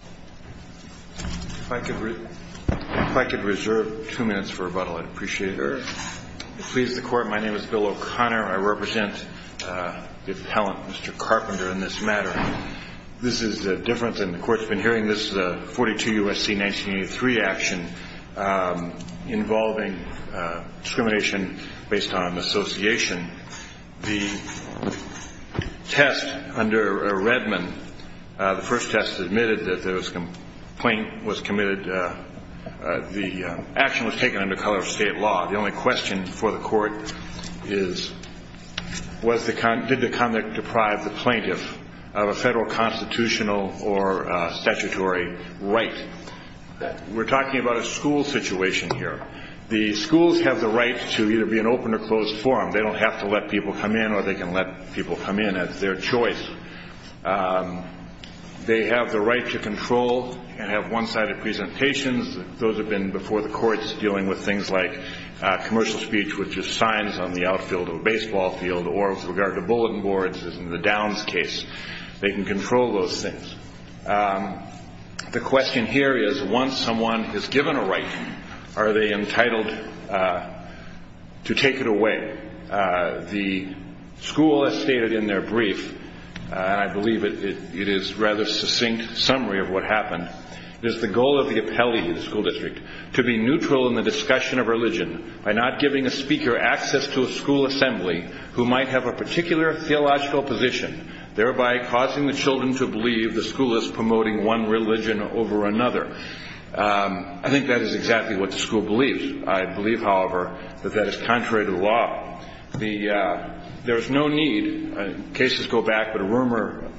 If I could reserve two minutes for rebuttal, I'd appreciate it. If it pleases the Court, my name is Bill O'Connor. I represent the appellant, Mr. Carpenter, in this matter. This is different than the Court's been hearing. This is a 42 U.S.C. 1983 action involving discrimination based on association. The test under Redmond, the first test admitted that the action was taken under color of state law. The only question for the Court is did the conduct deprive the plaintiff of a federal constitutional or statutory right? We're talking about a school situation here. The schools have the right to either be an open or closed forum. They don't have to let people come in, or they can let people come in as their choice. They have the right to control and have one-sided presentations. Those have been before the courts dealing with things like commercial speech, which is signs on the outfield of a baseball field, or with regard to bulletin boards, as in the Downs case. They can control those things. The question here is once someone is given a right, are they entitled to take it away? The school has stated in their brief, and I believe it is a rather succinct summary of what happened, is the goal of the appellee in the school district to be neutral in the discussion of religion by not giving a speaker access to a school assembly who might have a particular theological position, thereby causing the children to believe the school is promoting one religion over another. I think that is exactly what the school believes. I believe, however, that that is contrary to the law. There is no need. Cases go back, but a rumor,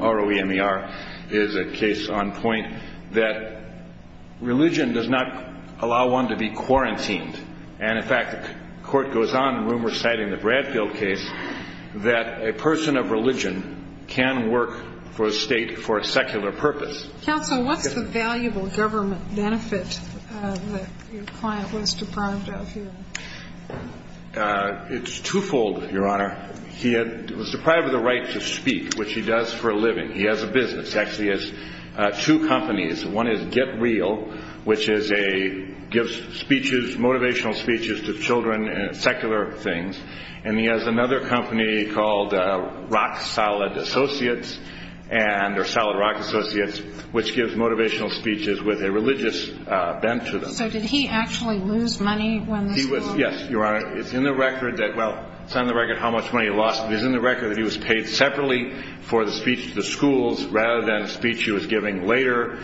R-O-E-M-E-R, is a case on point that religion does not allow one to be quarantined. And, in fact, the Court goes on in rumors citing the Bradfield case that a person of religion can work for a state for a secular purpose. Counsel, what's the valuable government benefit that your client was deprived of here? It's twofold, Your Honor. He was deprived of the right to speak, which he does for a living. He has a business. He actually has two companies. One is Get Real, which gives motivational speeches to children, secular things. And he has another company called Solid Rock Associates, which gives motivational speeches with a religious bent to them. So did he actually lose money when this happened? Yes, Your Honor. It's not in the record how much money he lost, but it is in the record that he was paid separately for the speech to the schools rather than a speech he was giving later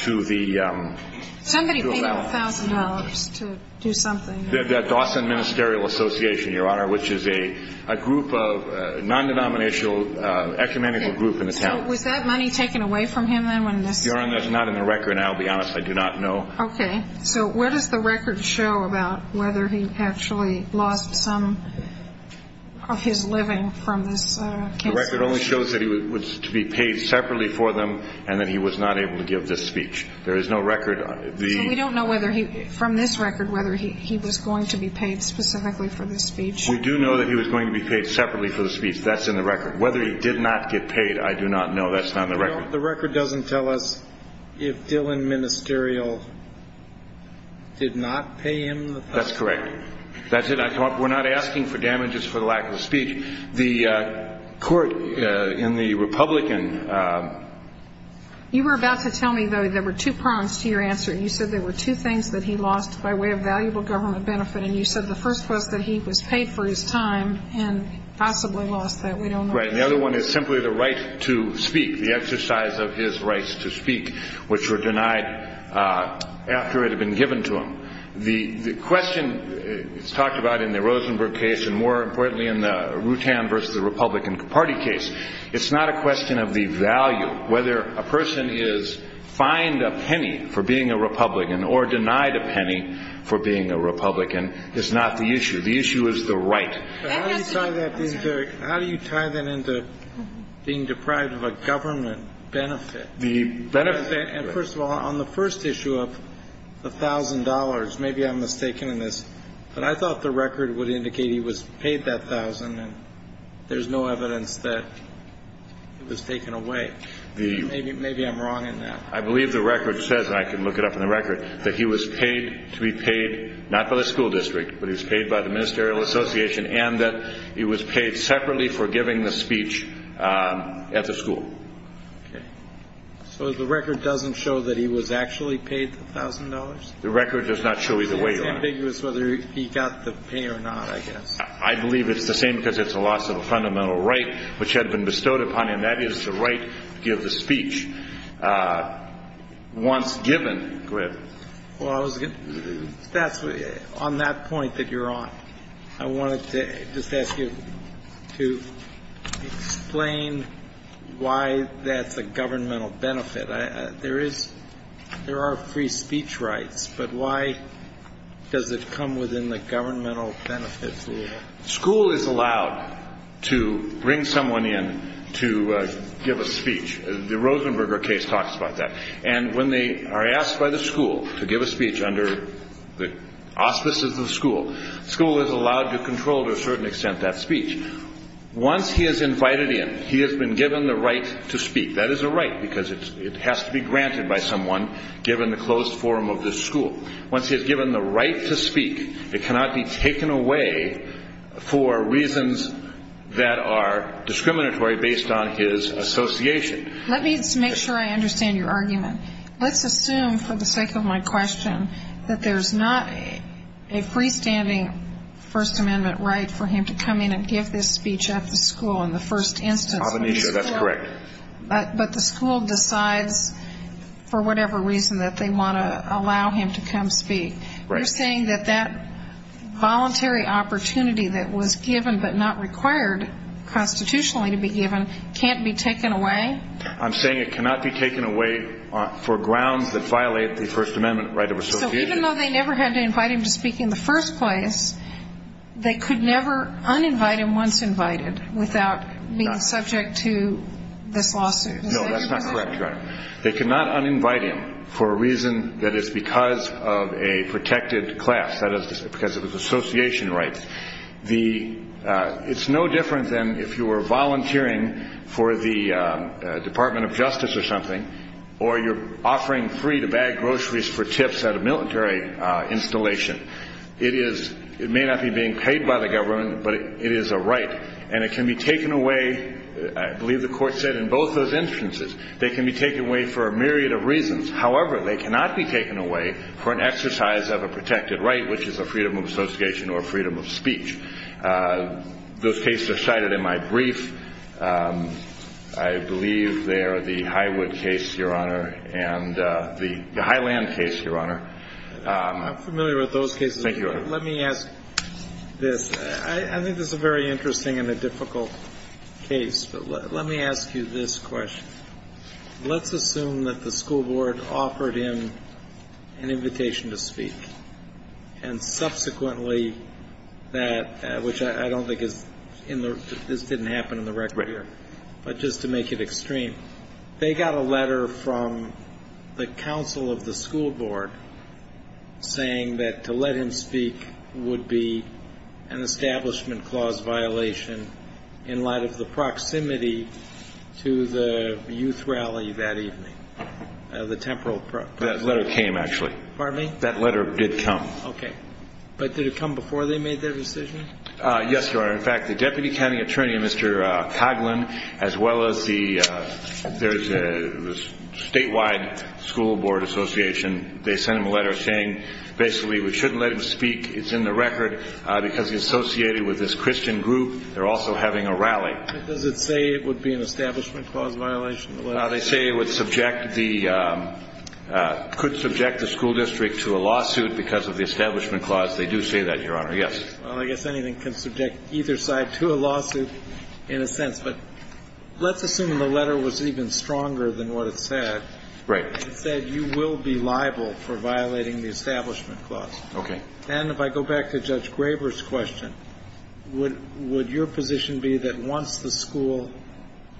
to the- Somebody paid him $1,000 to do something. The Dawson Ministerial Association, Your Honor, which is a group of non-denominational ecumenical group in the town. So was that money taken away from him then when this happened? Your Honor, that's not in the record, and I'll be honest, I do not know. Okay. So where does the record show about whether he actually lost some of his living from this case? The record only shows that he was to be paid separately for them and that he was not able to give this speech. There is no record. So we don't know from this record whether he was going to be paid specifically for this speech? We do know that he was going to be paid separately for the speech. That's in the record. Whether he did not get paid, I do not know. That's not in the record. The record doesn't tell us if Dillon Ministerial did not pay him the- That's correct. That's it. We're not asking for damages for the lack of speech. The court in the Republican- You were about to tell me, though, there were two prongs to your answer. You said there were two things that he lost by way of valuable government benefit, and you said the first was that he was paid for his time and possibly lost that. We don't know. Right. And the other one is simply the right to speak, the exercise of his rights to speak, which were denied after it had been given to him. The question talked about in the Rosenberg case and, more importantly, in the Rutan v. Republican Party case, it's not a question of the value. Whether a person is fined a penny for being a Republican or denied a penny for being a Republican is not the issue. The issue is the right. How do you tie that into being deprived of a government benefit? The benefit- First of all, on the first issue of the $1,000, maybe I'm mistaken in this, but I thought the record would indicate he was paid that $1,000, and there's no evidence that it was taken away. Maybe I'm wrong in that. I believe the record says, and I can look it up in the record, that he was paid to be paid not by the school district, but he was paid by the ministerial association, and that he was paid separately for giving the speech at the school. Okay. So the record doesn't show that he was actually paid the $1,000? The record does not show either way. It's ambiguous whether he got the pay or not, I guess. I believe it's the same because it's a loss of a fundamental right which had been bestowed upon him. Go ahead. Well, that's on that point that you're on. I wanted to just ask you to explain why that's a governmental benefit. There are free speech rights, but why does it come within the governmental benefit? School is allowed to bring someone in to give a speech. The Rosenberger case talks about that. And when they are asked by the school to give a speech under the auspices of the school, school is allowed to control to a certain extent that speech. Once he is invited in, he has been given the right to speak. That is a right because it has to be granted by someone given the closed forum of the school. Once he is given the right to speak, it cannot be taken away for reasons that are discriminatory based on his association. Let me just make sure I understand your argument. Let's assume for the sake of my question that there's not a freestanding First Amendment right for him to come in and give this speech at the school in the first instance. That's correct. But the school decides for whatever reason that they want to allow him to come speak. You're saying that that voluntary opportunity that was given but not required constitutionally to be given can't be taken away? I'm saying it cannot be taken away for grounds that violate the First Amendment right of association. So even though they never had to invite him to speak in the first place, they could never uninvite him once invited without being subject to this lawsuit? No, that's not correct, Your Honor. They could not uninvite him for a reason that is because of a protected class, that is because of his association rights. It's no different than if you were volunteering for the Department of Justice or something or you're offering free-to-bag groceries for tips at a military installation. It may not be being paid by the government, but it is a right, and it can be taken away. I believe the Court said in both those instances they can be taken away for a myriad of reasons. However, they cannot be taken away for an exercise of a protected right, which is a freedom of association or freedom of speech. Those cases are cited in my brief. I believe they are the Highwood case, Your Honor, and the Highland case, Your Honor. I'm familiar with those cases. Thank you, Your Honor. Let me ask this. I think this is a very interesting and a difficult case, but let me ask you this question. Let's assume that the school board offered him an invitation to speak, and subsequently that, which I don't think is in the record here, but just to make it extreme, they got a letter from the counsel of the school board saying that to let him speak would be an establishment clause violation in light of the proximity to the youth rally that evening, the temporal process. That letter came, actually. Pardon me? That letter did come. Okay. But did it come before they made their decision? Yes, Your Honor. In fact, the deputy county attorney, Mr. Coughlin, as well as the statewide school board association, they sent him a letter saying basically we shouldn't let him speak. It's in the record. Because he's associated with this Christian group, they're also having a rally. Does it say it would be an establishment clause violation? They say it would subject the ñ could subject the school district to a lawsuit because of the establishment clause. They do say that, Your Honor. Yes. Well, I guess anything can subject either side to a lawsuit in a sense. But let's assume the letter was even stronger than what it said. Right. It said you will be liable for violating the establishment clause. Okay. And if I go back to Judge Graber's question, would your position be that once the school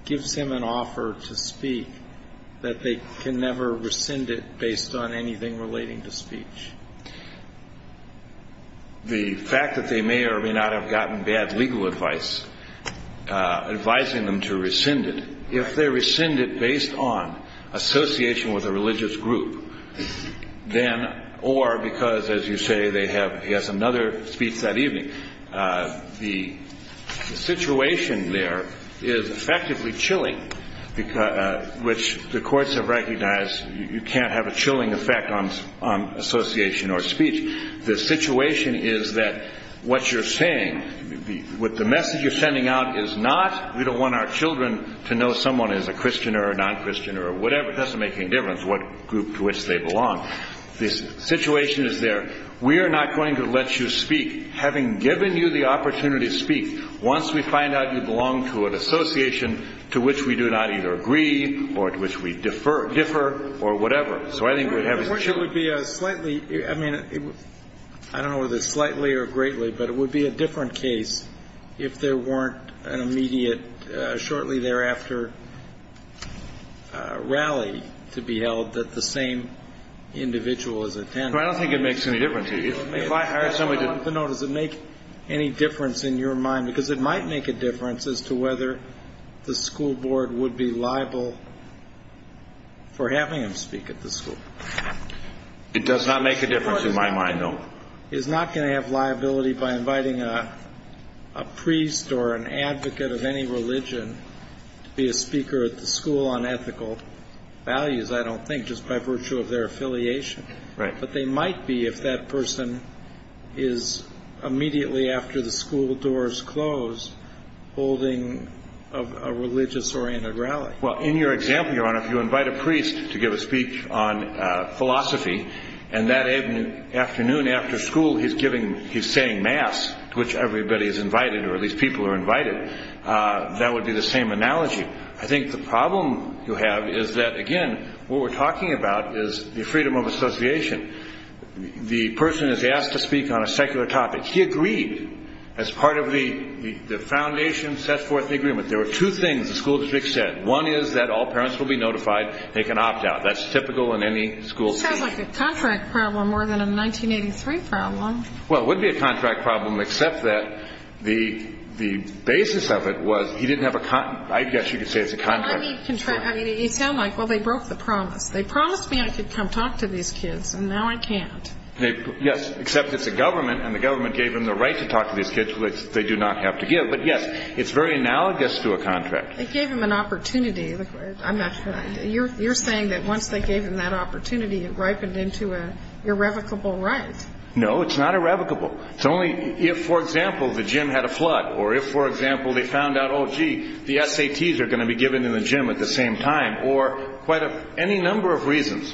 gives him an offer to speak, that they can never rescind it based on anything relating to speech? The fact that they may or may not have gotten bad legal advice advising them to rescind it, if they rescind it based on association with a religious group, then ñ or because, as you say, they have ñ he has another speech that evening. The situation there is effectively chilling, which the courts have recognized you can't have a chilling effect on association or speech. The situation is that what you're saying, what the message you're sending out is not we don't want our children to know someone is a Christian or a non-Christian or whatever. It doesn't make any difference what group to which they belong. The situation is there. We are not going to let you speak, having given you the opportunity to speak, once we find out you belong to an association to which we do not either agree or to which we differ or whatever. So I think we'd have children. It would be a slightly ñ I mean, I don't know whether slightly or greatly, but it would be a different case if there weren't an immediate, shortly thereafter, rally to be held that the same individual as attended. I don't think it makes any difference to you. If I hire somebody to ñ No, does it make any difference in your mind? Because it might make a difference as to whether the school board would be liable for having him speak at the school. It does not make a difference in my mind, no. The school is not going to have liability by inviting a priest or an advocate of any religion to be a speaker at the school on ethical values, I don't think, just by virtue of their affiliation. Right. But they might be if that person is immediately after the school doors close holding a religious-oriented rally. Well, in your example, Your Honor, if you invite a priest to give a speech on philosophy and that afternoon after school he's giving ñ he's saying mass, to which everybody is invited, or at least people are invited, that would be the same analogy. I think the problem you have is that, again, what we're talking about is the freedom of association. The person is asked to speak on a secular topic. He agreed as part of the foundation sets forth the agreement. There were two things the school district said. One is that all parents will be notified, they can opt out. That's typical in any school. It sounds like a contract problem more than a 1983 problem. Well, it would be a contract problem, except that the basis of it was he didn't have a ñ I guess you could say it's a contract. I mean, it sounds like, well, they broke the promise. They promised me I could come talk to these kids, and now I can't. Yes, except it's a government, and the government gave them the right to talk to these kids, which they do not have to give. But, yes, it's very analogous to a contract. They gave them an opportunity. I'm not sure. You're saying that once they gave them that opportunity, it ripened into an irrevocable right. No, it's not irrevocable. It's only if, for example, the gym had a flood or if, for example, they found out, oh, gee, the SATs are going to be given in the gym at the same time or quite a ñ any number of reasons.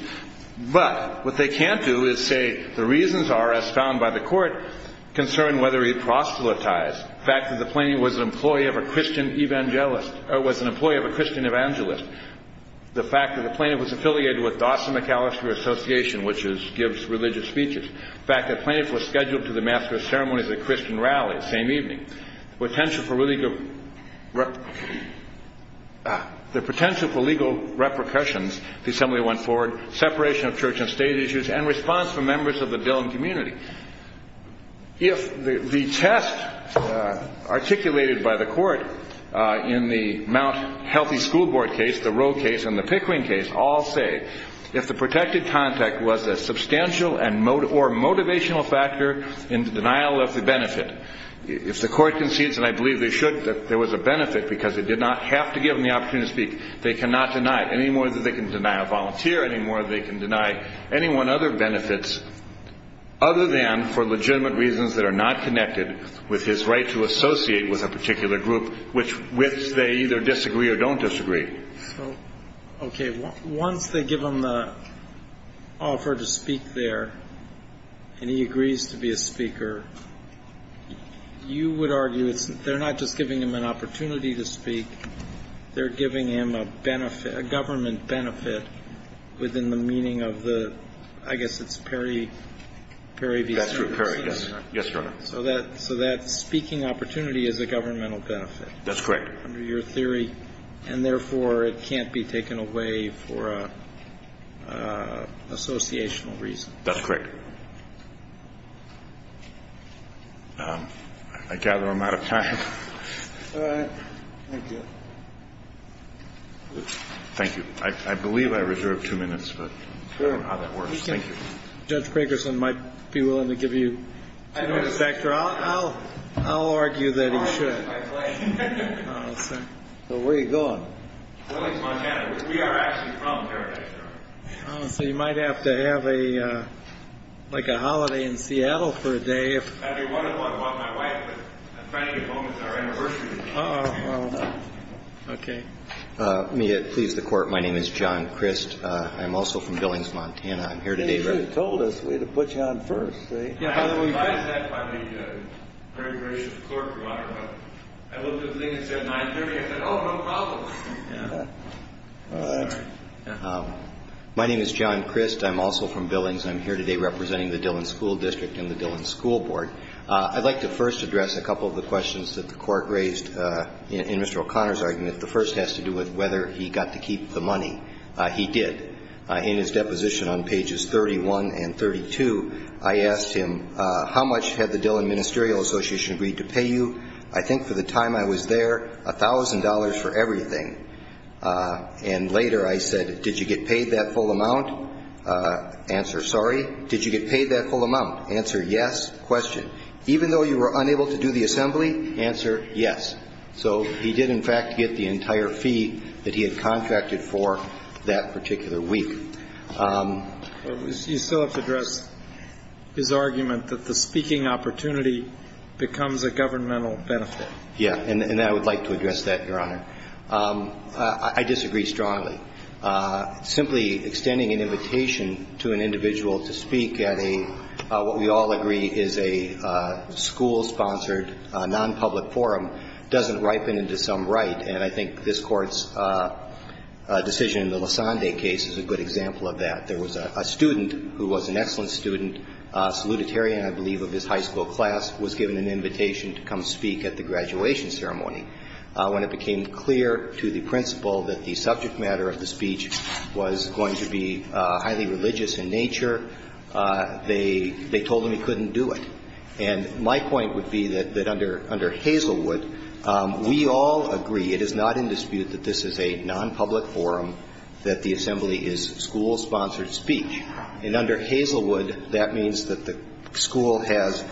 But what they can't do is say the reasons are, as found by the court, concern whether he proselytized. The fact that the plaintiff was an employee of a Christian evangelist ñ or was an employee of a Christian evangelist. The fact that the plaintiff was affiliated with Dawson McAllister Association, which gives religious speeches. The fact that the plaintiff was scheduled to the master of ceremonies at a Christian rally the same evening. The potential for legal ñ the potential for legal repercussions, the assembly went forward, separation of church and state issues, and response from members of the building community. If the test articulated by the court in the Mount Healthy School Board case, the Rowe case, and the Pickering case all say if the protected contact was a substantial or motivational factor in the denial of the benefit, if the court concedes, and I believe they should, that there was a benefit because it did not have to give them the opportunity to speak, they cannot deny it any more than they can deny a volunteer any more than they can deny anyone other benefits other than for legitimate reasons that are not connected with his right to associate with a particular group which they either disagree or don't disagree. Okay, once they give him the offer to speak there, and he agrees to be a speaker, you would argue they're not just giving him an opportunity to speak, they're giving him a benefit, a government benefit within the meaning of the ñ I guess it's Perry v. Cerner. That's right, Perry, yes. Yes, Your Honor. So that speaking opportunity is a governmental benefit. That's correct. Under your theory, and therefore it can't be taken away for an associational reason. That's correct. I gather I'm out of time. All right. Thank you. Thank you. I believe I reserved two minutes, but I don't know how that works. Thank you. Judge Crakerson might be willing to give you two minutes, Doctor. I'll argue that he should. Where are you going? Williams, Montana, which we are actually from, Perry. So you might have to have a ñ like a holiday in Seattle for a day. Okay. May it please the Court. My name is John Crist. I'm also from Billings, Montana. I'm here today ñ You should have told us. We would have put you on first. Yeah. I was advised that by the very gracious Court, Your Honor. I looked at the thing that said 930. I said, oh, no problem. Yeah. All right. My name is John Crist. Thank you. Thank you. Thank you. Thank you. Thank you. Thank you. Thank you. Thank you. Thank you. Thank you. Thank you. Thank you. The first is for the courtís counsel, Mr. Oconnor, and the second is for the tenant. I'd like to first address a couple of the questions that the court raised in Mr. O'Connorís argument. The first has to do with whether he got to keep the money. He did. In his deposition on Pages 31 and 32, I asked him, ìHow much had the Dillon Ministerial Association agreed to pay you?î I think for the time I was there, a thousand dollars for everything, and later I said, ìDid you get paid that full amount?î Answer, ìSorry. Did you get paid that full amount?î Answer, ìYes.î Question. ìEven though you were unable to do the assembly?î Answer, ìYes.î So he did, in fact, get the entire fee that he had contracted for that particular week. You still have to address his argument that the speaking opportunity becomes a governmental benefit. Yes. And I would like to address that, Your Honor. I disagree strongly. Simply extending an invitation to an individual to speak at a, what we all agree is a school-sponsored nonpublic forum doesnít ripen into some right, and I think this Courtís decision in the Lisande case is a good example of that. There was a student who was an excellent student, a salutatorian, I believe, of his high school class, was given an invitation to come speak at the graduation ceremony. When it became clear to the principal that the subject matter of the speech was going to be highly religious in nature, they told him he couldnít do it. And my point would be that under Hazelwood, we all agree, it is not in dispute that this is a nonpublic forum, that the assembly is school-sponsored speech. And under Hazelwood, that means that the school has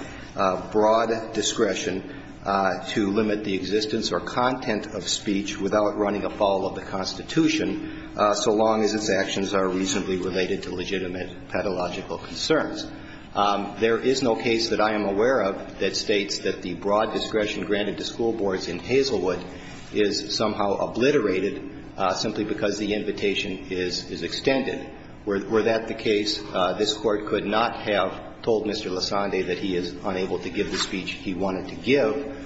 broad discretion to limit the existence or content of speech without running afoul of the Constitution, so long as its actions are reasonably related to legitimate pedagogical concerns. There is no case that I am aware of that states that the broad discretion granted to school boards in Hazelwood is somehow obliterated simply because the invitation is extended. Were that the case, this Court could not have told Mr. Lasande that he is unable to give the speech he wanted to give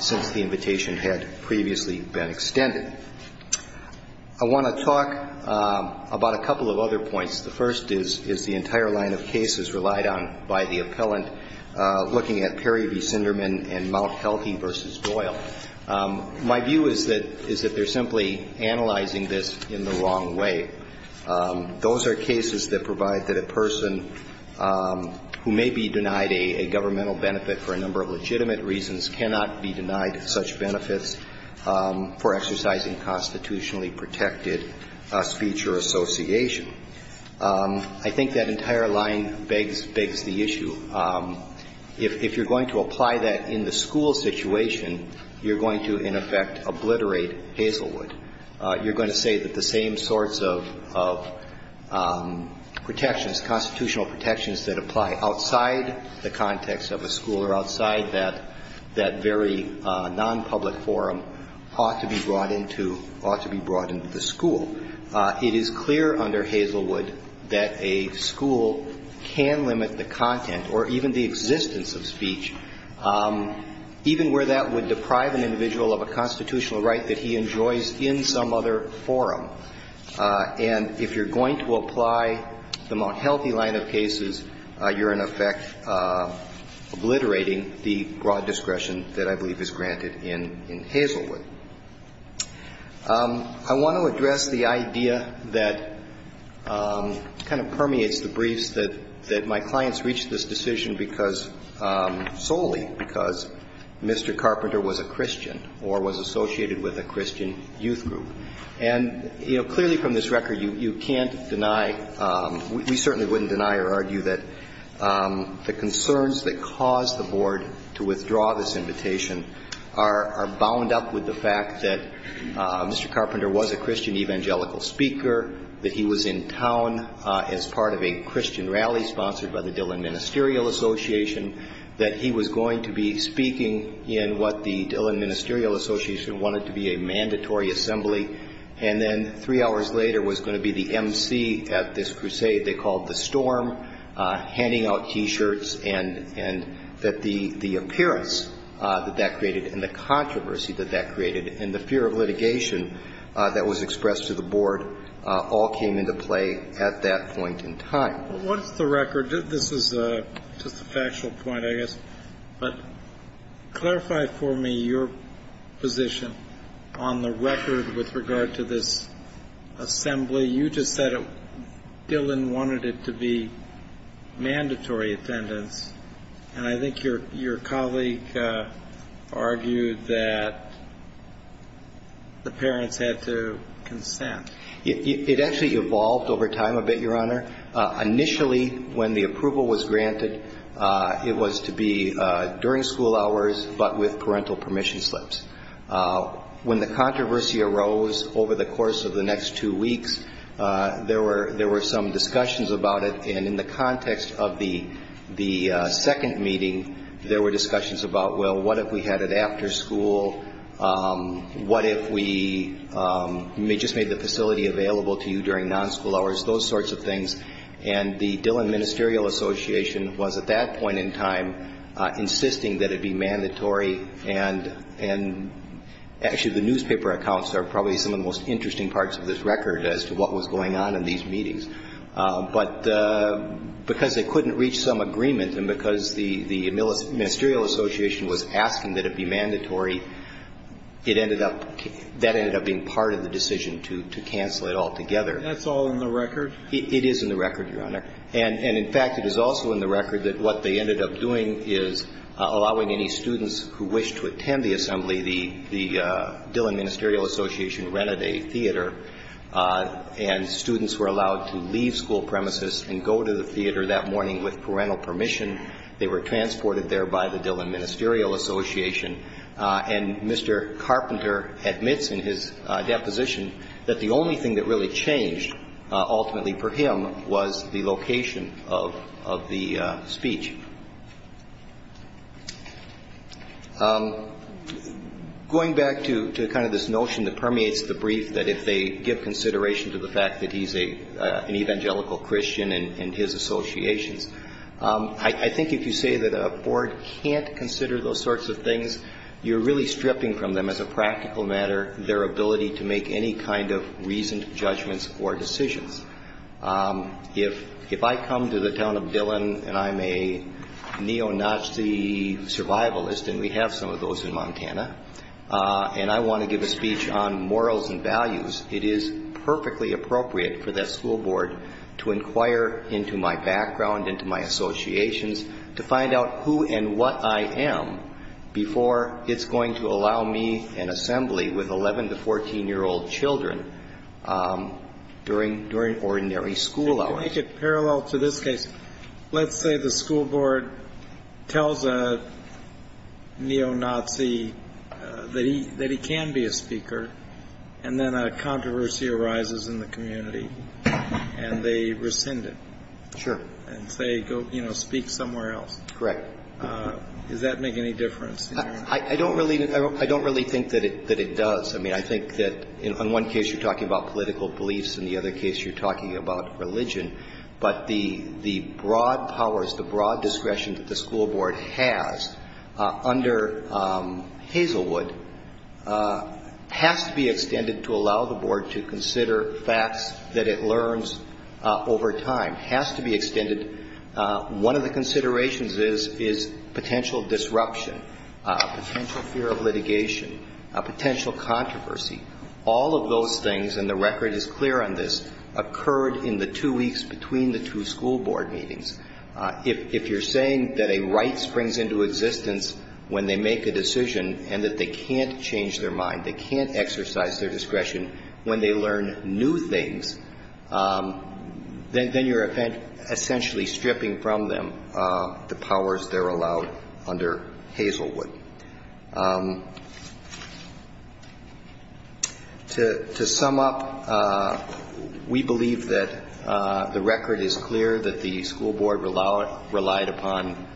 since the invitation had previously been extended. I want to talk about a couple of other points. The first is the entire line of cases relied on by the appellant looking at Perry v. Sinderman and Mount Healthy v. Doyle. My view is that theyíre simply analyzing this in the wrong way. Those are cases that provide that a person who may be denied a governmental benefit for a number of legitimate reasons cannot be denied such benefits for exercising constitutionally protected speech or association. I think that entire line begs the issue. If youíre going to apply that in the school situation, youíre going to, in effect, obliterate Hazelwood. Youíre going to say that the same sorts of protections, constitutional protections that apply outside the context of a school or outside that, that very nonpublic forum ought to be brought into, ought to be brought into the school. It is clear under Hazelwood that a school can limit the content or even the existence of speech, even where that would deprive an individual of a constitutional right that he enjoys in some other forum. And if youíre going to apply the Mount Healthy line of cases, youíre, in effect, obliterating the broad discretion that I believe is granted in Hazelwood. I want to address the idea that kind of permeates the briefs that my clients reached this decision because ñ solely because Mr. Carpenter was a Christian or was associated with a Christian youth group. And, you know, clearly from this record, you canít deny ñ we certainly wouldnít deny or argue that the concerns that caused the Board to withdraw this invitation are bound up with the fact that Mr. Carpenter was a Christian evangelical speaker, that he was in town as part of a Christian rally sponsored by the Dillon Ministerial Association, that he was going to be speaking in what the Dillon Ministerial Association wanted to be a mandatory assembly, and then three hours later was going to be the emcee at this crusade they called the Storm handing out T-shirts, and that the appearance that that created and the controversy that that created and the fear of litigation that was expressed to the Board all came into play at that point in time. Well, what is the record? This is just a factual point, I guess. But clarify for me your position on the record with regard to this assembly. You just said Dillon wanted it to be mandatory attendance, and I think your colleague argued that the parents had to consent. It actually evolved over time a bit, Your Honor. Initially, when the approval was granted, it was to be during school hours but with parental permission slips. When the controversy arose over the course of the next two weeks, there were some discussions about it, and in the context of the second meeting, there were discussions about, well, what if we had it after school? What if we just made the facility available to you during non-school hours? Those sorts of things. And the Dillon Ministerial Association was at that point in time insisting that it be mandatory, and actually the newspaper accounts are probably some of the most interesting parts of this record as to what was going on in these meetings. But because they couldn't reach some agreement and because the ministerial association was asking that it be mandatory, it ended up, that ended up being part of the decision to cancel it altogether. That's all in the record? It is in the record, Your Honor. And in fact, it is also in the record that what they ended up doing is allowing any students who wished to attend the assembly, the Dillon Ministerial Association rented a theater, and students were allowed to leave school premises and go to the theater that morning with parental permission. They were transported there by the Dillon Ministerial Association. And Mr. Carpenter admits in his deposition that the only thing that really changed ultimately for him was the location of the speech. Going back to kind of this notion that permeates the brief that if they give consideration to the fact that he's an evangelical Christian and his associations, I think if you say that a board can't consider those sorts of things, you're really stripping from them as a practical matter their ability to make any kind of reasoned judgments or decisions. If I come to the town of Dillon and I'm a neo-Nazi survivalist, and we have some of those in Montana, and I want to give a speech on morals and values, it is perfectly appropriate for that school board to inquire into my background, into my associations, to find out who and what I am before it's going to allow me an assembly with 11- to 14-year-old children during ordinary school hours. If you make it parallel to this case, let's say the school board tells a neo-Nazi that he can be a speaker, and then a controversy arises in the community, and they rescind it. Sure. And say, you know, speak somewhere else. Correct. Does that make any difference? I don't really think that it does. I mean, I think that in one case you're talking about political beliefs, in the other case you're talking about religion. But the broad powers, the broad discretion that the school board has under Hazelwood has to be extended to allow the board to consider facts that it learns over time. It has to be extended. One of the considerations is potential disruption, potential fear of litigation, potential controversy. All of those things, and the record is clear on this, occurred in the two weeks between the two school board meetings. If you're saying that a right springs into existence when they make a decision and that they can't change their mind, they can't exercise their discretion when they learn new things, then you're essentially stripping from them the powers they're allowed under Hazelwood. To sum up, we believe that the record is clear that the school board relied upon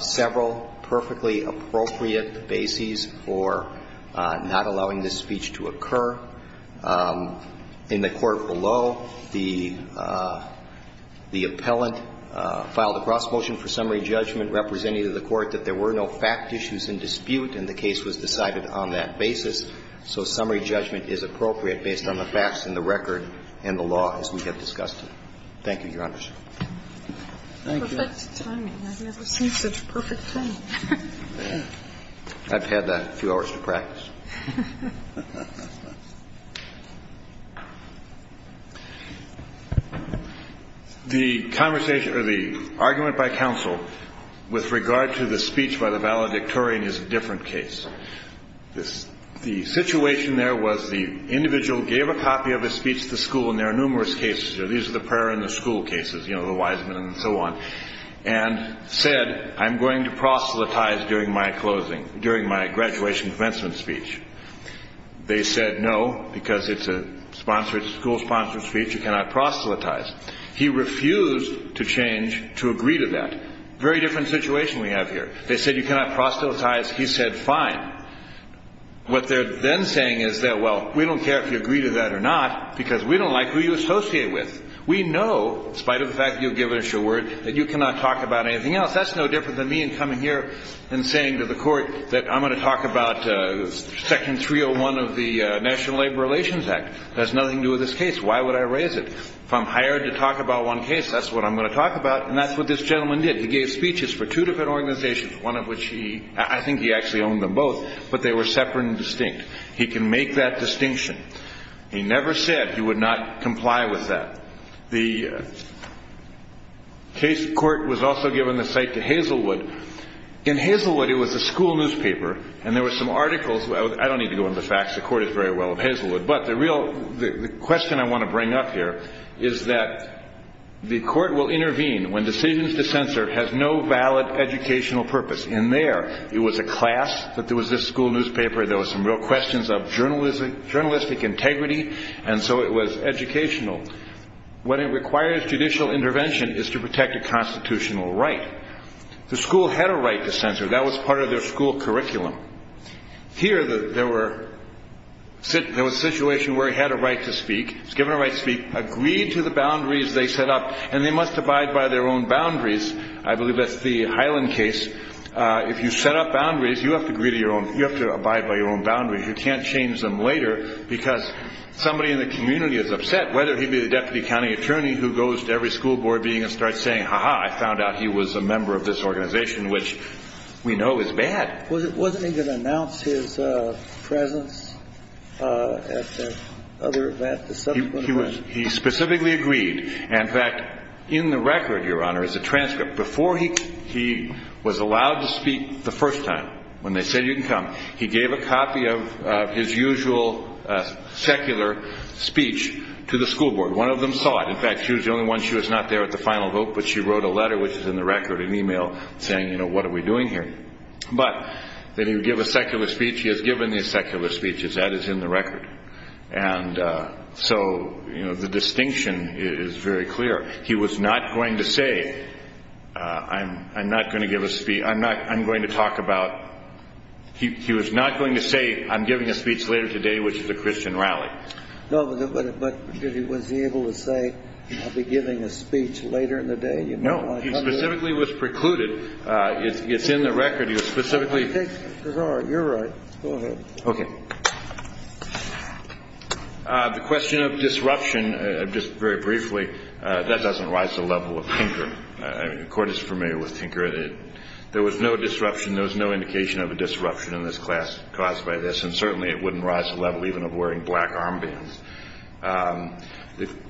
several perfectly appropriate bases for not allowing this speech to occur. In the court below, the appellant filed a cross motion for summary judgment representing the court that there were no fact issues in the dispute and the case was decided on that basis. So summary judgment is appropriate based on the facts in the record and the law as we have discussed it. Thank you, Your Honors. Thank you. Perfect timing. I've never seen such perfect timing. I've had that a few hours to practice. The conversation or the argument by counsel with regard to the speech by the valedictorian is a different case. The situation there was the individual gave a copy of a speech to school, and there are numerous cases. These are the prayer and the school cases, you know, the Wiseman and so on, and said, I'm going to proselytize during my closing, during my graduation commencement speech. They said no, because it's a school sponsored speech. You cannot proselytize. He refused to change to agree to that. Very different situation we have here. They said you cannot proselytize. He said fine. What they're then saying is that, well, we don't care if you agree to that or not, because we don't like who you associate with. We know, in spite of the fact that you've given us your word, that you cannot talk about anything else. That's no different than me coming here and saying to the court that I'm going to talk about Section 301 of the National Labor Relations Act. That has nothing to do with this case. Why would I raise it? If I'm hired to talk about one case, that's what I'm going to talk about, and that's what this gentleman did. He gave speeches for two different organizations, one of which I think he actually owned them both, but they were separate and distinct. He can make that distinction. He never said he would not comply with that. The court was also given the site to Hazelwood. In Hazelwood, it was a school newspaper, and there were some articles. I don't need to go into the facts. The court is very well in Hazelwood. The question I want to bring up here is that the court will intervene when decisions to censor have no valid educational purpose. In there, it was a class that there was this school newspaper. There were some real questions of journalistic integrity, and so it was educational. What it requires, judicial intervention, is to protect a constitutional right. The school had a right to censor. That was part of their school curriculum. Here, there was a situation where he had a right to speak, was given a right to speak, agreed to the boundaries they set up, and they must abide by their own boundaries. I believe that's the Highland case. If you set up boundaries, you have to abide by your own boundaries. You can't change them later because somebody in the community is upset, whether he be the deputy county attorney who goes to every school board meeting and starts saying, ha-ha, I found out he was a member of this organization, which we know is bad. Wasn't he going to announce his presence at the subsequent event? He specifically agreed. In fact, in the record, Your Honor, is a transcript. Before he was allowed to speak the first time, when they said you can come, he gave a copy of his usual secular speech to the school board. One of them saw it. In fact, she was the only one. She was not there at the final vote, but she wrote a letter, which is in the record, an e-mail saying, you know, what are we doing here? But did he give a secular speech? He has given these secular speeches. That is in the record. And so, you know, the distinction is very clear. He was not going to say, I'm not going to give a speech. I'm going to talk about he was not going to say, I'm giving a speech later today, which is a Christian rally. No, but was he able to say, I'll be giving a speech later in the day? No, he specifically was precluded. It's in the record. He was specifically. Your Honor, you're right. Go ahead. Okay. The question of disruption, just very briefly, that doesn't rise to the level of Tinker. The Court is familiar with Tinker. There was no disruption. There was no indication of a disruption in this class caused by this, and certainly it wouldn't rise to the level even of wearing black armbands.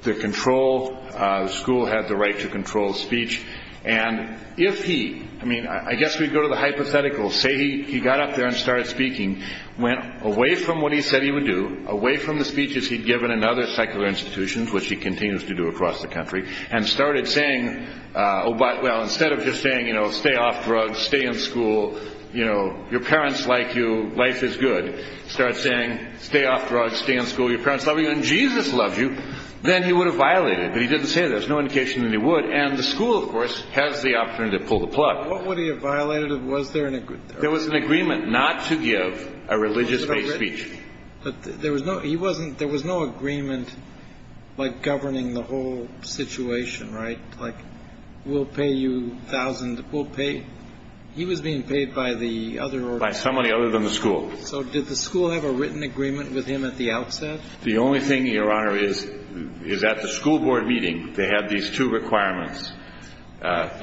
The control, the school had the right to control speech. And if he, I mean, I guess we'd go to the hypothetical, say he got up there and started speaking, went away from what he said he would do, away from the speeches he'd given in other secular institutions, which he continues to do across the country, and started saying, well, instead of just saying, you know, stay off drugs, stay in school, you know, your parents like you, life is good, start saying, stay off drugs, stay in school, your parents love you, and Jesus loves you, then he would have violated. But he didn't say that. There's no indication that he would. And the school, of course, has the option to pull the plug. What would he have violated? Was there an agreement? There was an agreement not to give a religious-based speech. But there was no, he wasn't, there was no agreement, like, governing the whole situation, right? Like, we'll pay you a thousand, we'll pay, he was being paid by the other order. By somebody other than the school. So did the school have a written agreement with him at the outset? The only thing, Your Honor, is at the school board meeting they had these two requirements. I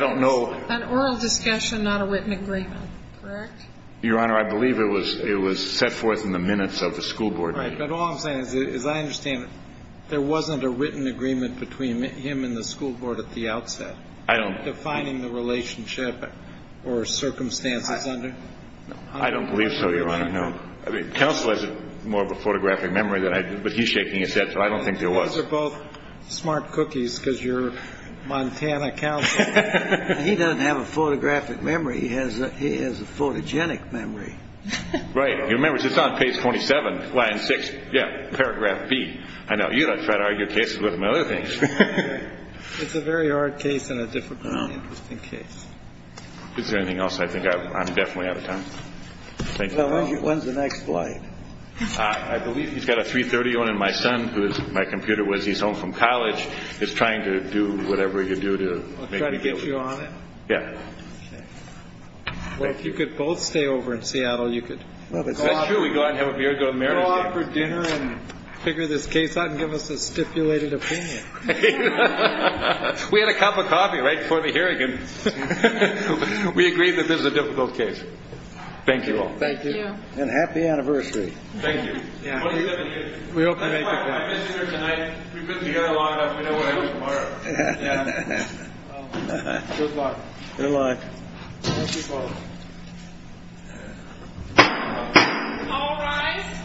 don't know. An oral discussion, not a written agreement, correct? Your Honor, I believe it was set forth in the minutes of the school board meeting. Right, but all I'm saying is I understand there wasn't a written agreement between him and the school board at the outset. I don't. Defining the relationship or circumstances under. I don't believe so, Your Honor, no. Counsel has more of a photographic memory than I do, but he's shaking his head, so I don't think there was. Those are both smart cookies because you're Montana counsel. He doesn't have a photographic memory, he has a photogenic memory. Right, he remembers, it's on page 27, line 6, yeah, paragraph B. I know, you don't try to argue cases with him and other things. It's a very hard case and a difficult and interesting case. Is there anything else I think I'm definitely out of time? Thank you, Your Honor. When's the next flight? I believe he's got a 330 on, and my son, who is, my computer was, he's home from college, is trying to do whatever he can do to make me feel good. I'll try to get you on it. Yeah. Okay. Well, if you could both stay over in Seattle, you could. That's true, we could go out and have a beer, go to Marysville. Go out for dinner and figure this case out and give us a stipulated opinion. We had a cup of coffee right before the hearing and we agreed that this was a difficult case. Thank you all. Thank you. And happy anniversary. Thank you. We hope you make it back. We've been together long enough, we know what to do tomorrow. Good luck. Good luck. Thank you both. All rise.